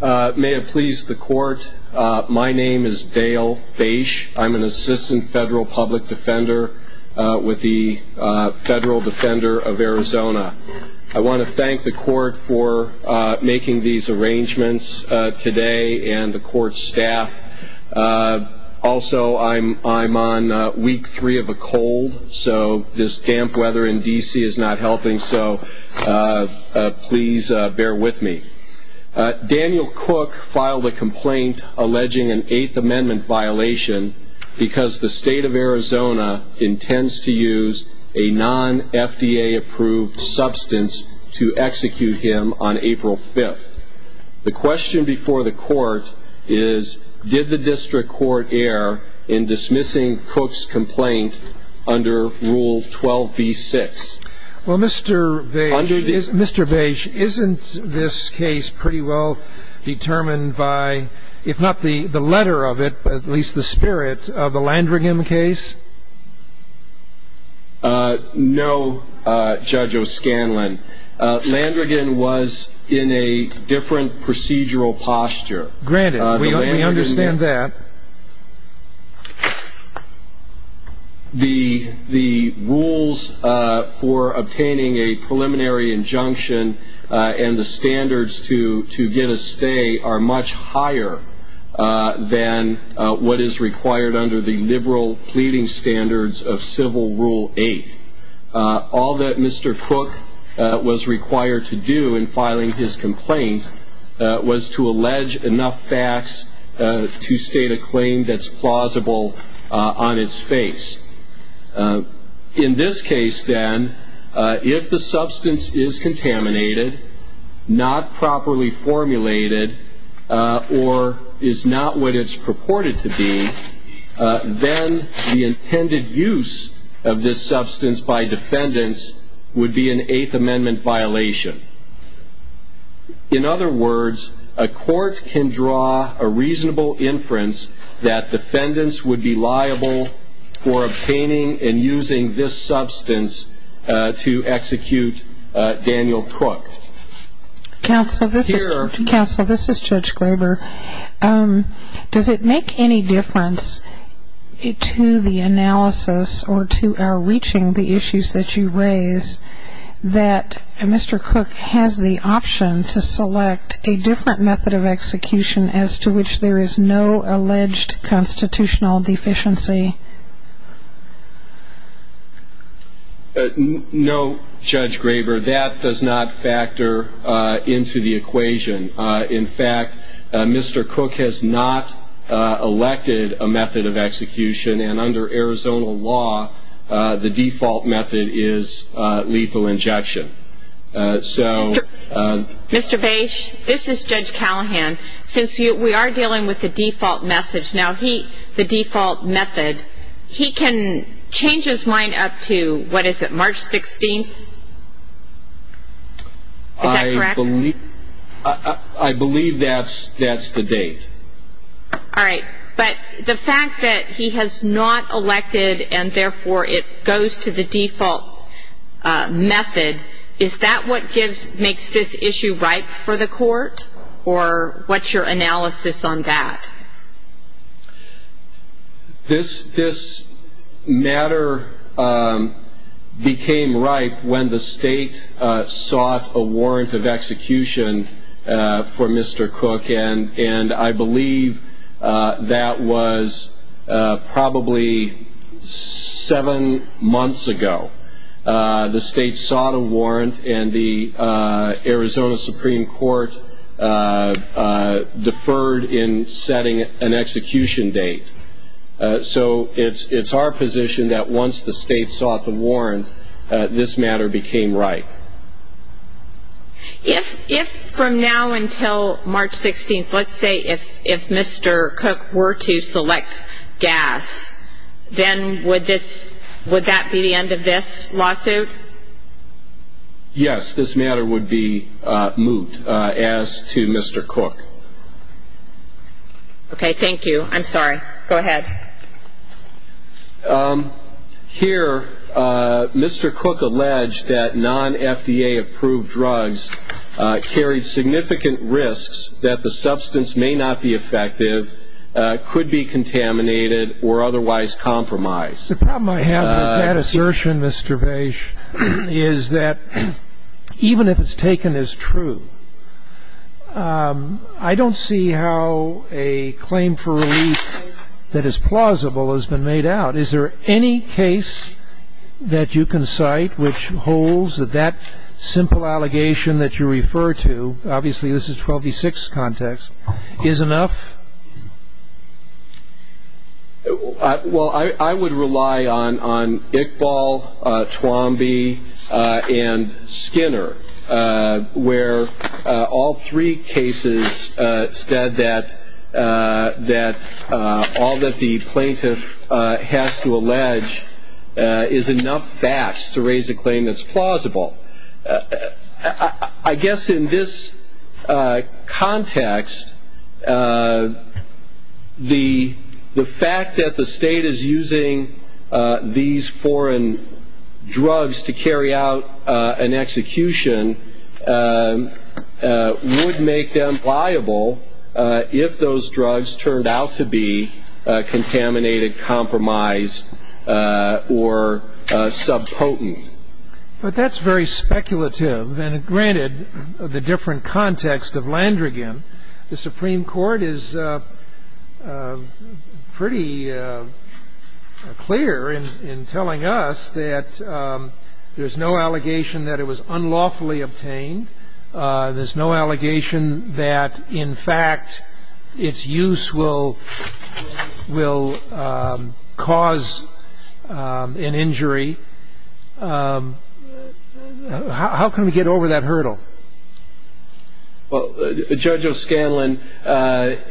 May it please the court, my name is Dale Bache. I'm an assistant federal public defender with the Federal Defender of Arizona. I want to thank the court for making these arrangements today and the court staff. Also, I'm on week three of a cold, so this damp weather in D.C. is not helping, so please bear with me. Daniel Cook filed a complaint alleging an Eighth Amendment violation because the state of Arizona intends to use a non-FDA approved substance to execute him on April 5th. The question before the court is, did the district court err in dismissing Cook's complaint under Rule 12b-6? Well, Mr. Bache, isn't this case pretty well determined by, if not the letter of it, at least the spirit of the Landrigan case? No, Judge O'Scanlan. Landrigan was in a different procedural posture. Granted, we understand that. The rules for obtaining a preliminary injunction and the standards to get a stay are much higher than what is required under the liberal pleading standards of Civil Rule 8. All that Mr. Cook was required to do in filing his complaint was to allege enough facts to state a claim that's plausible on its face. In this case, then, if the substance is contaminated, not properly formulated, or is not what it's purported to be, then the intended use of this substance by defendants would be an Eighth Amendment violation. In other words, a court can draw a reasonable inference that defendants would be liable for obtaining and using this substance to execute Daniel Cook. Counsel, this is Judge Graber. Does it make any difference to the analysis or to our reaching the issues that you raise that Mr. Cook has the option to select a different method of execution as to which there is no alleged constitutional deficiency? No, Judge Graber, that does not factor into the equation. In fact, Mr. Cook has not elected a method of execution, and under Arizona law, the default method is lethal injection. Mr. Bache, this is Judge Callahan. Since we are dealing with the default method, he can change his mind up to, what is it, March 16th? Is that correct? I believe that's the date. All right. But the fact that he has not elected and, therefore, it goes to the default method, is that what makes this issue ripe for the court, or what's your analysis on that? This matter became ripe when the state sought a warrant of execution for Mr. Cook, and I believe that was probably seven months ago. The state sought a warrant, and the Arizona Supreme Court deferred in setting an execution date. So it's our position that once the state sought the warrant, this matter became ripe. If from now until March 16th, let's say if Mr. Cook were to select gas, then would that be the end of this lawsuit? Yes, this matter would be moot as to Mr. Cook. Okay, thank you. I'm sorry. Go ahead. Here, Mr. Cook alleged that non-FDA-approved drugs carried significant risks that the substance may not be effective, could be contaminated, or otherwise compromised. The problem I have with that assertion, Mr. Bashe, is that even if it's taken as true, I don't see how a claim for relief that is plausible has been made out. Is there any case that you can cite which holds that that simple allegation that you refer to, obviously this is 12b-6 context, is enough? Well, I would rely on Iqbal, Twombie, and Skinner, where all three cases said that all that the plaintiff has to allege is enough facts to raise a claim that's plausible. I guess in this context, the fact that the state is using these foreign drugs to carry out an execution would make them liable if those drugs turned out to be contaminated, compromised, or subpotent. But that's very speculative. And granted, the different context of Landrigan, the Supreme Court is pretty clear in telling us that there's no allegation that it was unlawfully obtained. There's no allegation that, in fact, its use will cause an injury. How can we get over that hurdle? Well, Judge O'Scanlan, at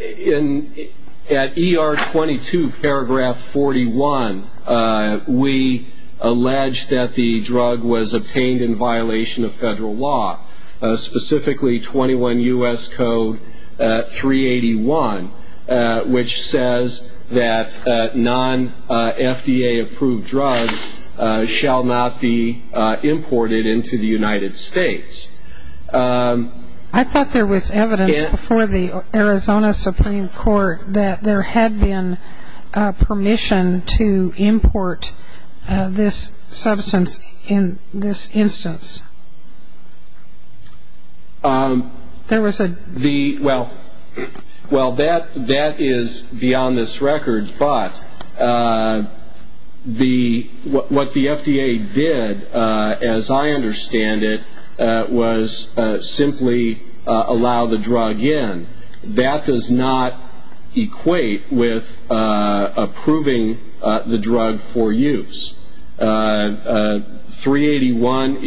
ER 22, paragraph 41, we allege that the drug was obtained in violation of federal law, specifically 21 U.S. Code 381, which says that non-FDA approved drugs shall not be imported into the United States. I thought there was evidence before the Arizona Supreme Court that there had been permission to import this substance in this instance. Well, that is beyond this record. But what the FDA did, as I understand it, was simply allow the drug in. That does not equate with approving the drug for use. 381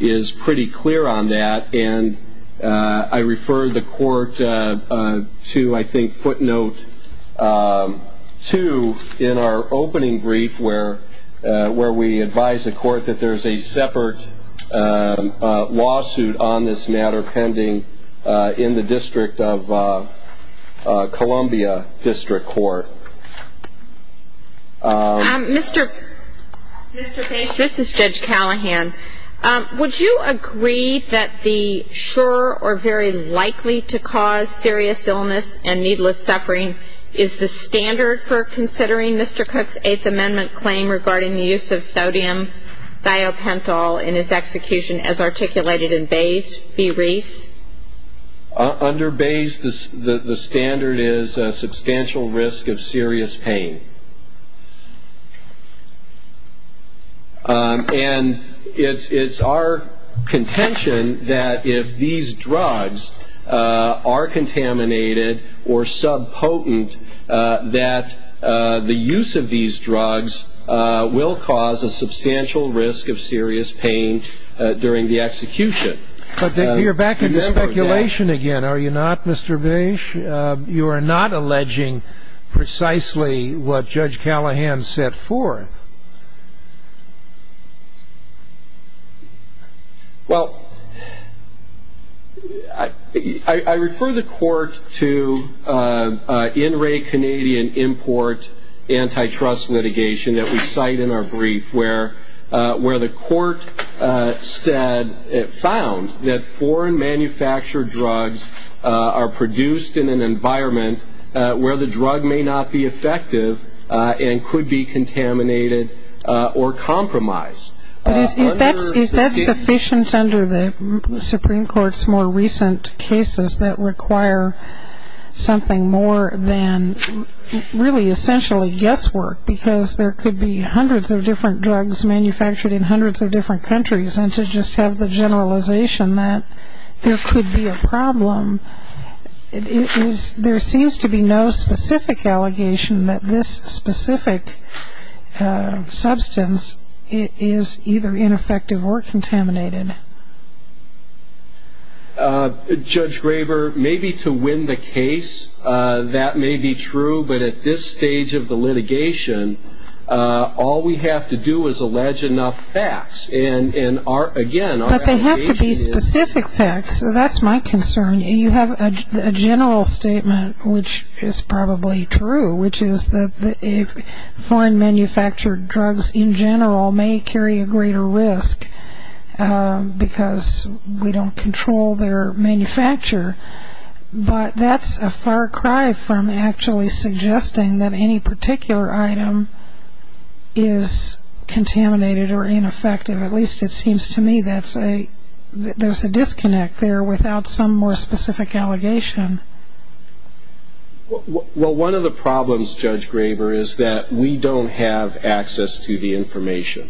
is pretty clear on that. And I refer the Court to, I think, footnote 2 in our opening brief, where we advise the Court that there's a separate lawsuit on this matter pending in the District of Columbia District Court. Mr. Bates, this is Judge Callahan. Would you agree that the sure or very likely to cause serious illness and needless suffering is the standard for considering Mr. Cook's Eighth Amendment claim regarding the use of sodium thiopental in his execution as articulated in Bayes v. Reese? Under Bayes, the standard is a substantial risk of serious pain. And it's our contention that if these drugs are contaminated or subpotent, that the use of these drugs will cause a substantial risk of serious pain during the execution. But you're back into speculation again, are you not, Mr. Bates? You are not alleging precisely what Judge Callahan set forth. Well, I refer the Court to in-ray Canadian import antitrust litigation that we cite in our brief, where the Court found that foreign manufactured drugs are produced in an environment where the drug may not be effective and could be contaminated. But is that sufficient under the Supreme Court's more recent cases that require something more than really essentially guesswork, because there could be hundreds of different drugs manufactured in hundreds of different countries, and to just have the generalization that there could be a problem. There seems to be no specific allegation that this specific substance is either ineffective or contaminated. Judge Graber, maybe to win the case, that may be true, but at this stage of the litigation, all we have to do is allege enough facts. But they have to be specific facts, so that's my concern. You have a general statement, which is probably true, which is that foreign manufactured drugs in general may carry a greater risk because we don't control their manufacture. But that's a far cry from actually suggesting that any particular item is contaminated or ineffective. At least it seems to me that there's a disconnect there without some more specific allegation. Well, one of the problems, Judge Graber, is that we don't have access to the information.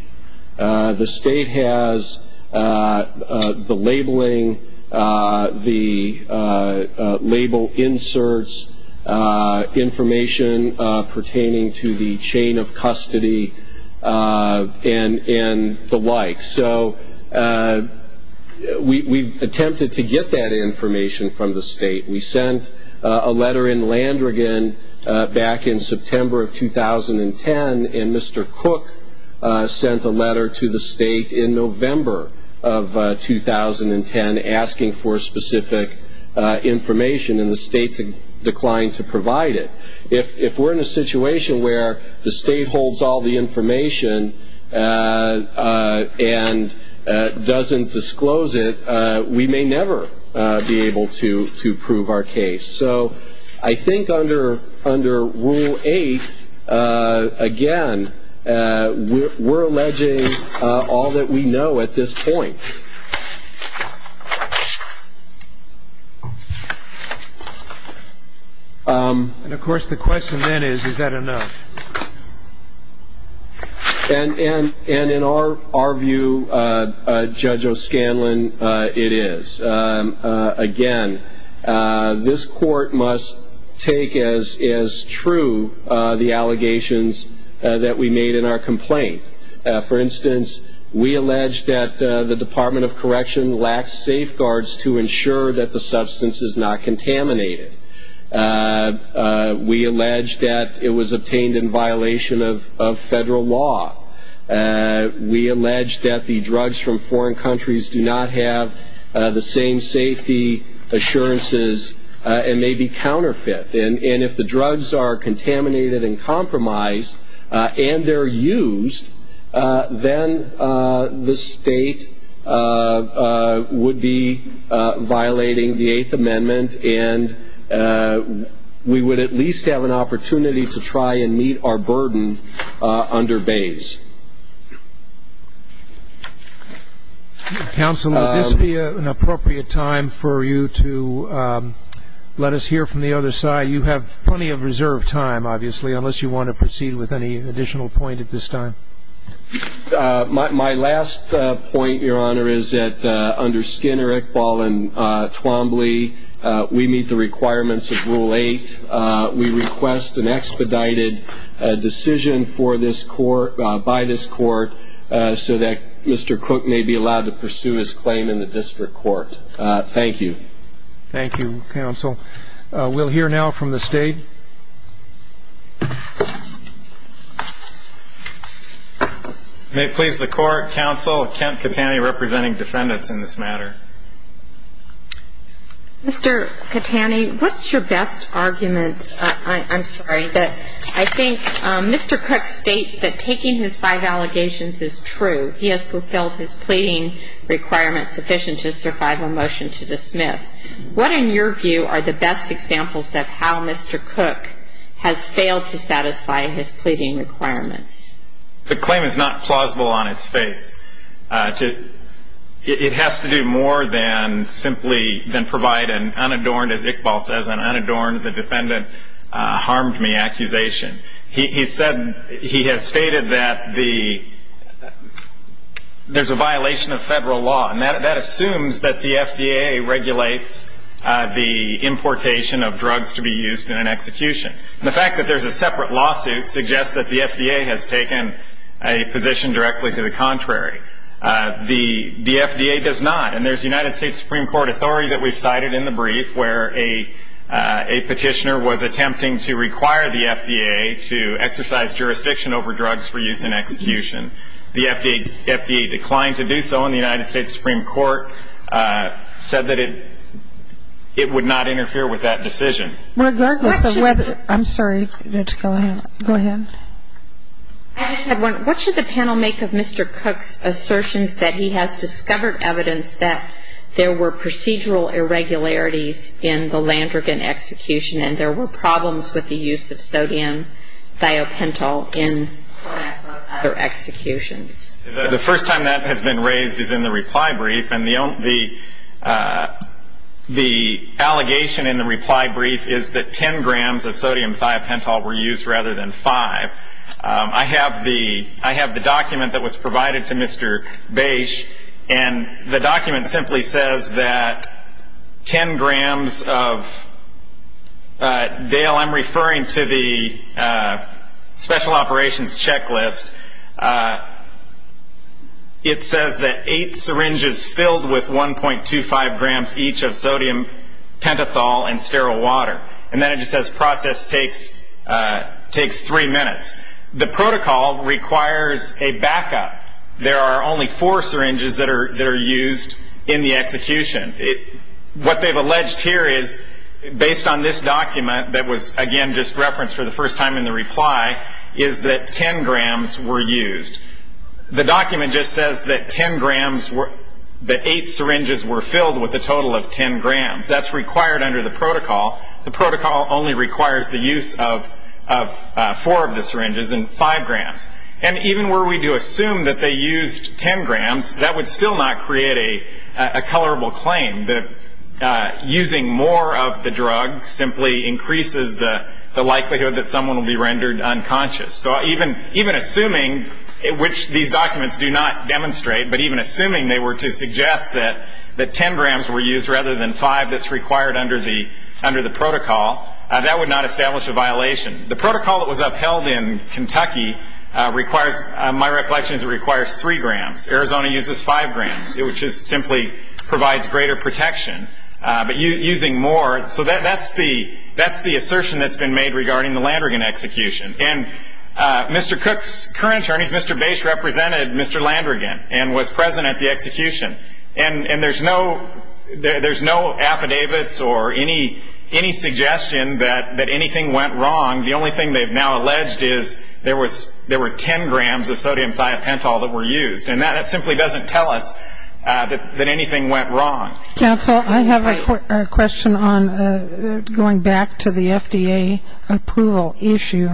The state has the labeling, the label inserts, information pertaining to the chain of custody, and the like. We've attempted to get that information from the state. We sent a letter in Landrigan back in September of 2010, and Mr. Cook sent a letter to the state in November of 2010 asking for specific information, and the state declined to provide it. If we're in a situation where the state holds all the information and doesn't disclose it, we may never be able to prove our case. So I think under Rule 8, again, we're alleging all that we know at this point. And, of course, the question then is, is that enough? And in our view, Judge O'Scanlan, it is. Again, this court must take as true the allegations that we made in our complaint. For instance, we allege that the Department of Correction lacks safeguards to ensure that the substance is not contaminated. We allege that it was obtained in violation of federal law. We allege that the drugs from foreign countries do not have the same safety assurances and may be counterfeit. And if the drugs are contaminated and compromised, and they're used, then the state would be violating the Eighth Amendment, and we would at least have an opportunity to try and meet our burden under Bays. Counsel, would this be an appropriate time for you to let us hear from the other side? You have plenty of reserved time, obviously, unless you want to proceed with any additional point at this time. My last point, Your Honor, is that under Skinner, Iqbal, and Twombly, we meet the requirements of Rule 8. We request an expedited decision by this court so that Mr. Cook may be allowed to pursue his claim in the district court. Thank you. Thank you, Counsel. We'll hear now from the state. May it please the Court, Counsel, Kent Katani representing defendants in this matter. Mr. Katani, what's your best argument? I'm sorry. I think Mr. Cook states that taking his five allegations is true. He has fulfilled his pleading requirements sufficient to survive a motion to dismiss. What, in your view, are the best examples of how Mr. Cook has failed to satisfy his pleading requirements? The claim is not plausible on its face. It has to do more than simply provide an unadorned, as Iqbal says, an unadorned defendant harmed me accusation. He has stated that there's a violation of federal law, and that assumes that the FDA regulates the importation of drugs to be used in an execution. The fact that there's a separate lawsuit suggests that the FDA has taken a position directly to the contrary. The FDA does not, and there's United States Supreme Court authority that we've cited in the brief where a petitioner was attempting to require the FDA to exercise jurisdiction over drugs for use in execution. The FDA declined to do so, and the United States Supreme Court said that it would not interfere with that decision. Regardless of whether, I'm sorry, go ahead. What should the panel make of Mr. Cook's assertions that he has discovered evidence that there were procedural irregularities in the Landrigan execution, and there were problems with the use of sodium thiopental in other executions? The first time that has been raised is in the reply brief, and the allegation in the reply brief is that 10 grams of sodium thiopental were used rather than 5. I have the document that was provided to Mr. Bache, and the document simply says that 10 grams of, Dale, I'm referring to the special operations checklist. It says that 8 syringes filled with 1.25 grams each of sodium pentothal and sterile water, and then it just says process takes 3 minutes. The protocol requires a backup. There are only 4 syringes that are used in the execution. What they've alleged here is, based on this document that was, again, just referenced for the first time in the reply, is that 10 grams were used. The document just says that 8 syringes were filled with a total of 10 grams. That's required under the protocol. The protocol only requires the use of 4 of the syringes and 5 grams. And even were we to assume that they used 10 grams, that would still not create a colorable claim, that using more of the drug simply increases the likelihood that someone will be rendered unconscious. So even assuming, which these documents do not demonstrate, but even assuming they were to suggest that 10 grams were used rather than 5 that's required under the protocol, that would not establish a violation. The protocol that was upheld in Kentucky requires, my reflection is it requires 3 grams. Arizona uses 5 grams, which simply provides greater protection. But using more, so that's the assertion that's been made regarding the Landrigan execution. And Mr. Cook's current attorneys, Mr. Bache, represented Mr. Landrigan and was present at the execution. And there's no affidavits or any suggestion that anything went wrong. The only thing they've now alleged is there were 10 grams of sodium thiopental that were used. And that simply doesn't tell us that anything went wrong. Counsel, I have a question going back to the FDA approval issue.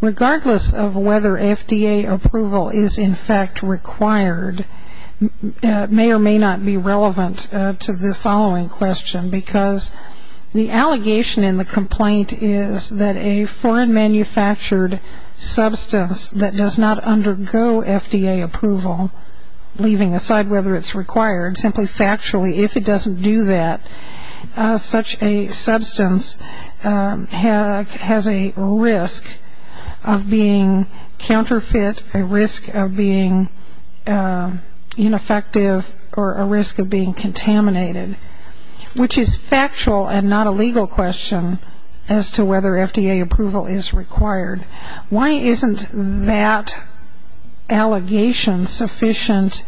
Regardless of whether FDA approval is in fact required, may or may not be relevant to the following question. Because the allegation in the complaint is that a foreign manufactured substance that does not undergo FDA approval, leaving aside whether it's required, simply factually if it doesn't do that, such a substance has a risk of being counterfeit, a risk of being ineffective, or a risk of being contaminated. Which is factual and not a legal question as to whether FDA approval is required. Why isn't that allegation sufficient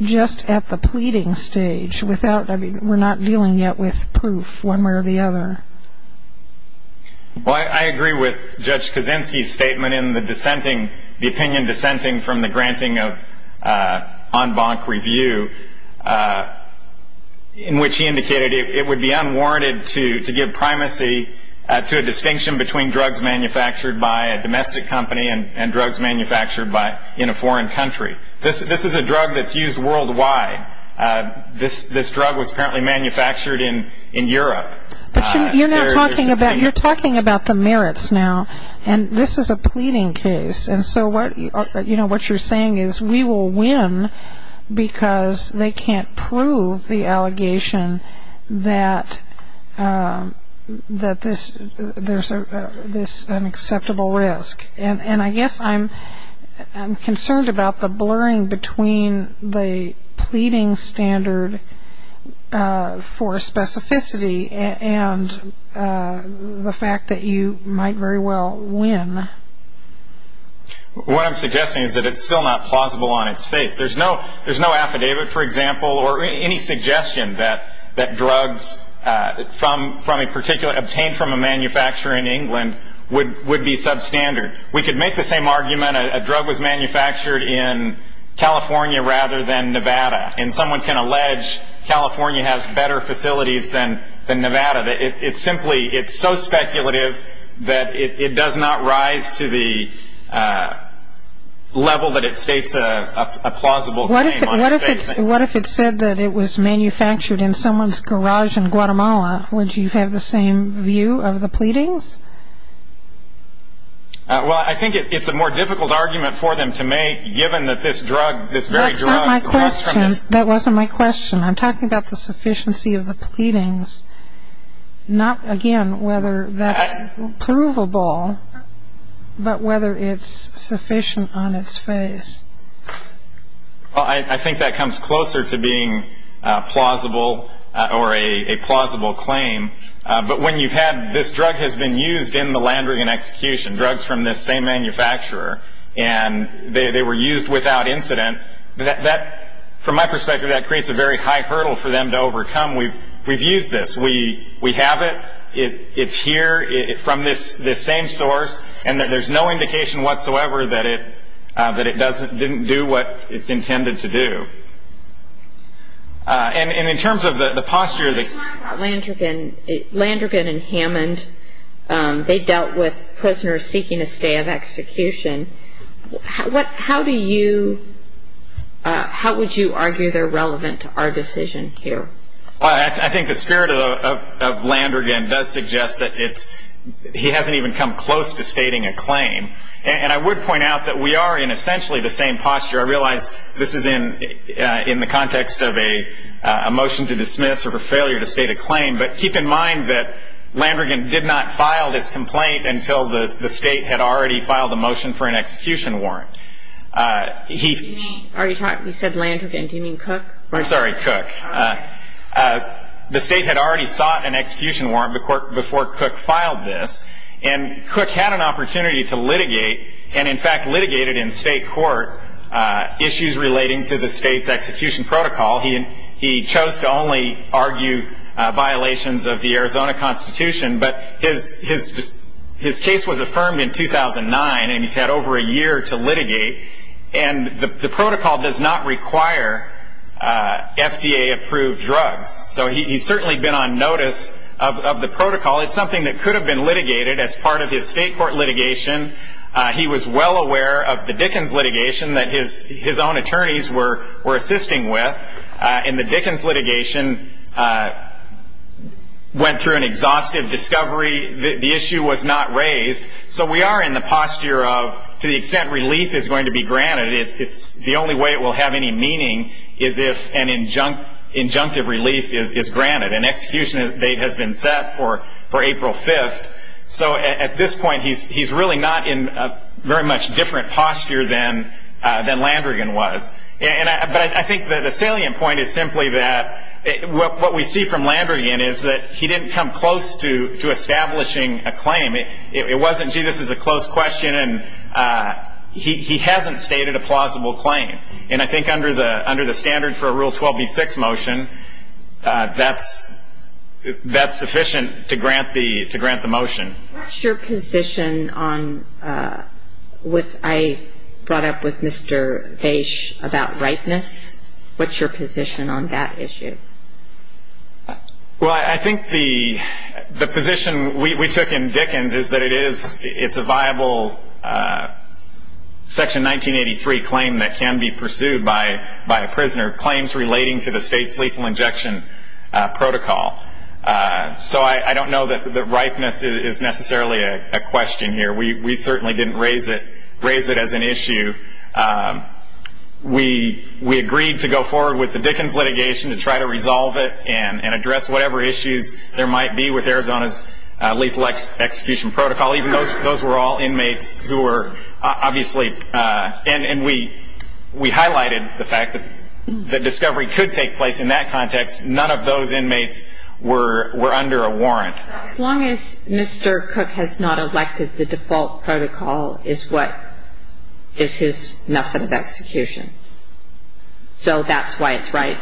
just at the pleading stage? We're not dealing yet with proof one way or the other. Well, I agree with Judge Kozinski's statement in the opinion dissenting from the granting of en banc review, in which he indicated it would be unwarranted to give primacy to a distinction between drugs manufactured by a domestic company and drugs manufactured in a foreign country. This is a drug that's used worldwide. This drug was apparently manufactured in Europe. But you're now talking about the merits now, and this is a pleading case. And so what you're saying is we will win because they can't prove the allegation that there's an acceptable risk. And I guess I'm concerned about the blurring between the pleading standard for specificity and the fact that you might very well win. What I'm suggesting is that it's still not plausible on its face. There's no affidavit, for example, that drugs obtained from a manufacturer in England would be substandard. We could make the same argument a drug was manufactured in California rather than Nevada, and someone can allege California has better facilities than Nevada. It's so speculative that it does not rise to the level that it states a plausible claim on its face. What if it said that it was manufactured in someone's garage in Guatemala? Would you have the same view of the pleadings? Well, I think it's a more difficult argument for them to make, given that this drug, this very drug comes from this. That's not my question. That wasn't my question. I'm talking about the sufficiency of the pleadings, not, again, whether that's provable, but whether it's sufficient on its face. Well, I think that comes closer to being plausible or a plausible claim. But when you've had this drug has been used in the Landrigan execution, drugs from this same manufacturer, and they were used without incident, from my perspective, that creates a very high hurdle for them to overcome. We've used this. We have it. It's here from this same source, and that there's no indication whatsoever that it didn't do what it's intended to do. And in terms of the posture that- When you talk about Landrigan and Hammond, they dealt with prisoners seeking a stay of execution. How do you, how would you argue they're relevant to our decision here? I think the spirit of Landrigan does suggest that it's- He hasn't even come close to stating a claim. And I would point out that we are in essentially the same posture. I realize this is in the context of a motion to dismiss or a failure to state a claim, but keep in mind that Landrigan did not file this complaint until the state had already filed a motion for an execution warrant. You said Landrigan. Do you mean Cook? I'm sorry, Cook. The state had already sought an execution warrant before Cook filed this, and Cook had an opportunity to litigate, and in fact litigated in state court, issues relating to the state's execution protocol. He chose to only argue violations of the Arizona Constitution, but his case was affirmed in 2009, and he's had over a year to litigate. And the protocol does not require FDA-approved drugs. So he's certainly been on notice of the protocol. It's something that could have been litigated as part of his state court litigation. He was well aware of the Dickens litigation that his own attorneys were assisting with, and the Dickens litigation went through an exhaustive discovery. The issue was not raised. So we are in the posture of, to the extent relief is going to be granted, the only way it will have any meaning is if an injunctive relief is granted. An execution date has been set for April 5th, so at this point he's really not in a very much different posture than Landrigan was. But I think the salient point is simply that what we see from Landrigan is that he didn't come close to establishing a claim. It wasn't, gee, this is a close question, and he hasn't stated a plausible claim. And I think under the standard for a Rule 12b-6 motion, that's sufficient to grant the motion. What's your position on what I brought up with Mr. Vaish about rightness? What's your position on that issue? Well, I think the position we took in Dickens is that it's a viable Section 1983 claim that can be pursued by a prisoner, claims relating to the state's lethal injection protocol. So I don't know that rightness is necessarily a question here. We certainly didn't raise it as an issue. We agreed to go forward with the Dickens litigation to try to resolve it and address whatever issues there might be with Arizona's lethal execution protocol, even though those were all inmates who were obviously, and we highlighted the fact that the discovery could take place in that context. None of those inmates were under a warrant. As long as Mr. Cook has not elected the default protocol is what is his method of execution. So that's why it's right.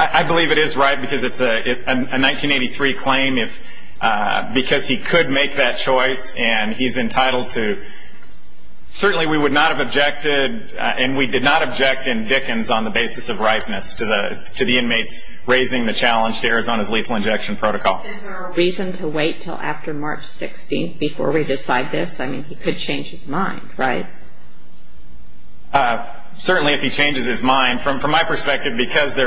I believe it is right because it's a 1983 claim, because he could make that choice, and he's entitled to. Certainly we would not have objected, and we did not object in Dickens on the basis of rightness to the inmates raising the challenge to Arizona's lethal injection protocol. Is there a reason to wait until after March 16th before we decide this? I mean, he could change his mind, right? Certainly if he changes his mind. From my perspective, because he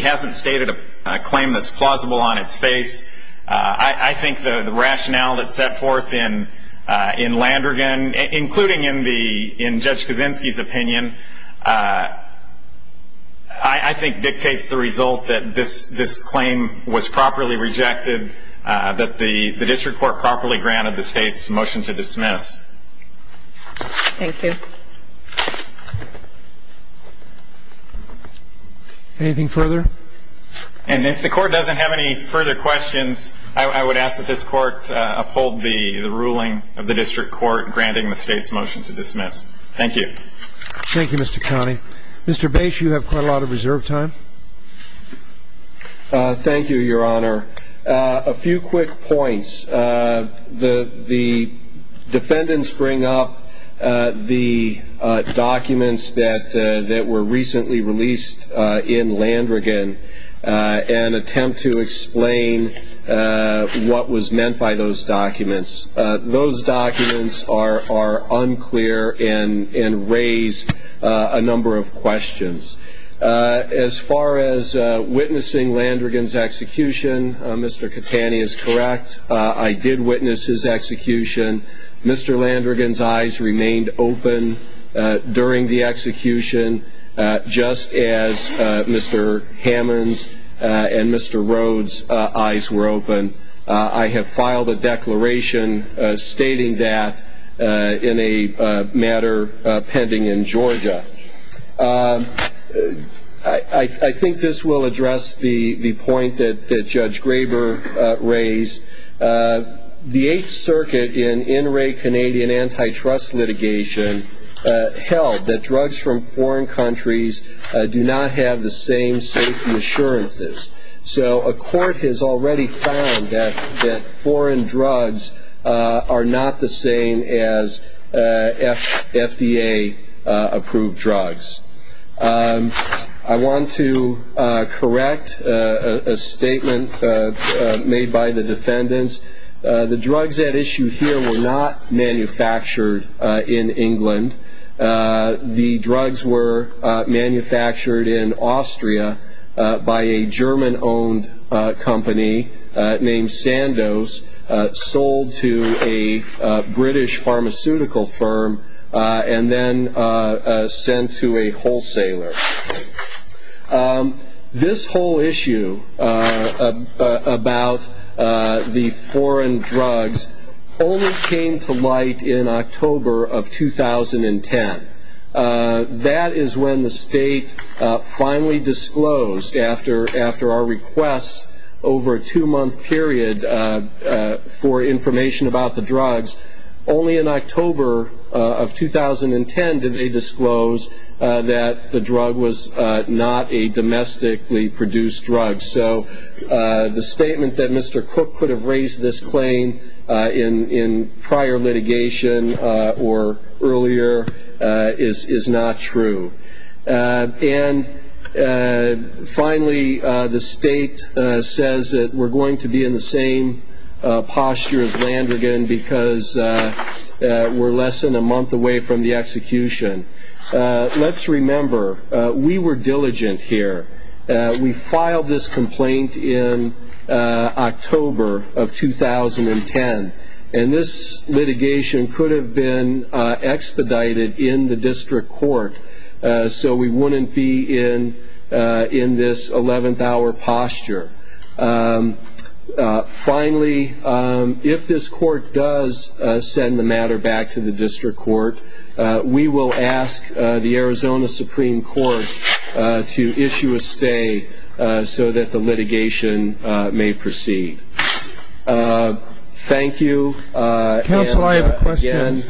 hasn't stated a claim that's plausible on its face, I think the rationale that's set forth in Landergan, including in Judge Kaczynski's opinion, I think dictates the result that this claim was properly rejected, that the district court properly granted the state's motion to dismiss. Thank you. Anything further? And if the court doesn't have any further questions, I would ask that this court uphold the ruling of the district court granting the state's motion to dismiss. Thank you. Thank you, Mr. Conning. Mr. Bates, you have quite a lot of reserve time. Thank you, Your Honor. A few quick points. The defendants bring up the documents that were recently released in Landergan and attempt to explain what was meant by those documents. Those documents are unclear and raise a number of questions. As far as witnessing Landergan's execution, Mr. Catani is correct. I did witness his execution. Mr. Landergan's eyes remained open during the execution, just as Mr. Hammond's and Mr. Rhodes' eyes were open. I have filed a declaration stating that in a matter pending in Georgia. I think this will address the point that Judge Graber raised. The Eighth Circuit in in-ray Canadian antitrust litigation held that drugs from foreign countries do not have the same safety assurances. So a court has already found that foreign drugs are not the same as FDA-approved drugs. I want to correct a statement made by the defendants. The drugs at issue here were not manufactured in England. The drugs were manufactured in Austria by a German-owned company named Sandos, sold to a British pharmaceutical firm, and then sent to a wholesaler. This whole issue about the foreign drugs only came to light in October of 2010. That is when the state finally disclosed, after our requests over a two-month period for information about the drugs, only in October of 2010 did they disclose that the drug was not a domestically produced drug. So the statement that Mr. Cook could have raised this claim in prior litigation or earlier is not true. And finally, the state says that we're going to be in the same posture as Landrigan because we're less than a month away from the execution. Let's remember, we were diligent here. We filed this complaint in October of 2010. And this litigation could have been expedited in the district court so we wouldn't be in this eleventh-hour posture. Finally, if this court does send the matter back to the district court, we will ask the Arizona Supreme Court to issue a stay so that the litigation may proceed. Thank you. Counsel, I have a question.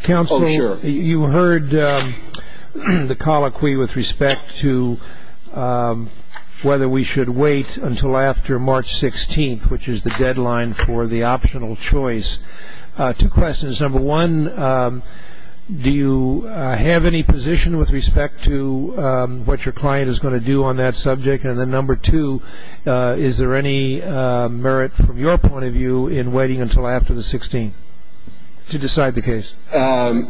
Counsel, you heard the colloquy with respect to whether we should wait until after March 16th, which is the deadline for the optional choice. Two questions. Number one, do you have any position with respect to what your client is going to do on that subject? And then number two, is there any merit from your point of view in waiting until after the 16th to decide the case? I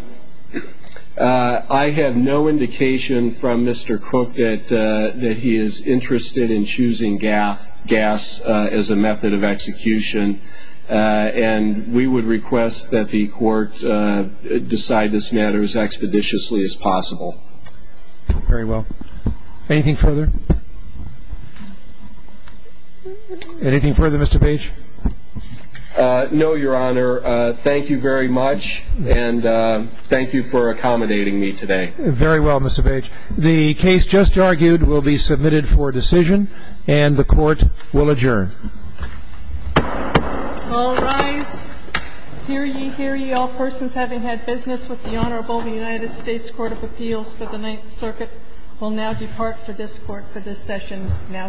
have no indication from Mr. Cook that he is interested in choosing gas as a method of execution. And we would request that the court decide this matter as expeditiously as possible. Very well. Anything further? Anything further, Mr. Bage? No, Your Honor. Thank you very much and thank you for accommodating me today. Very well, Mr. Bage. The case just argued will be submitted for decision and the court will adjourn. All rise. Hear ye, hear ye all persons having had business with the Honorable United States Court of Appeals for the Ninth Circuit will now depart for this court for this session now stands adjourned.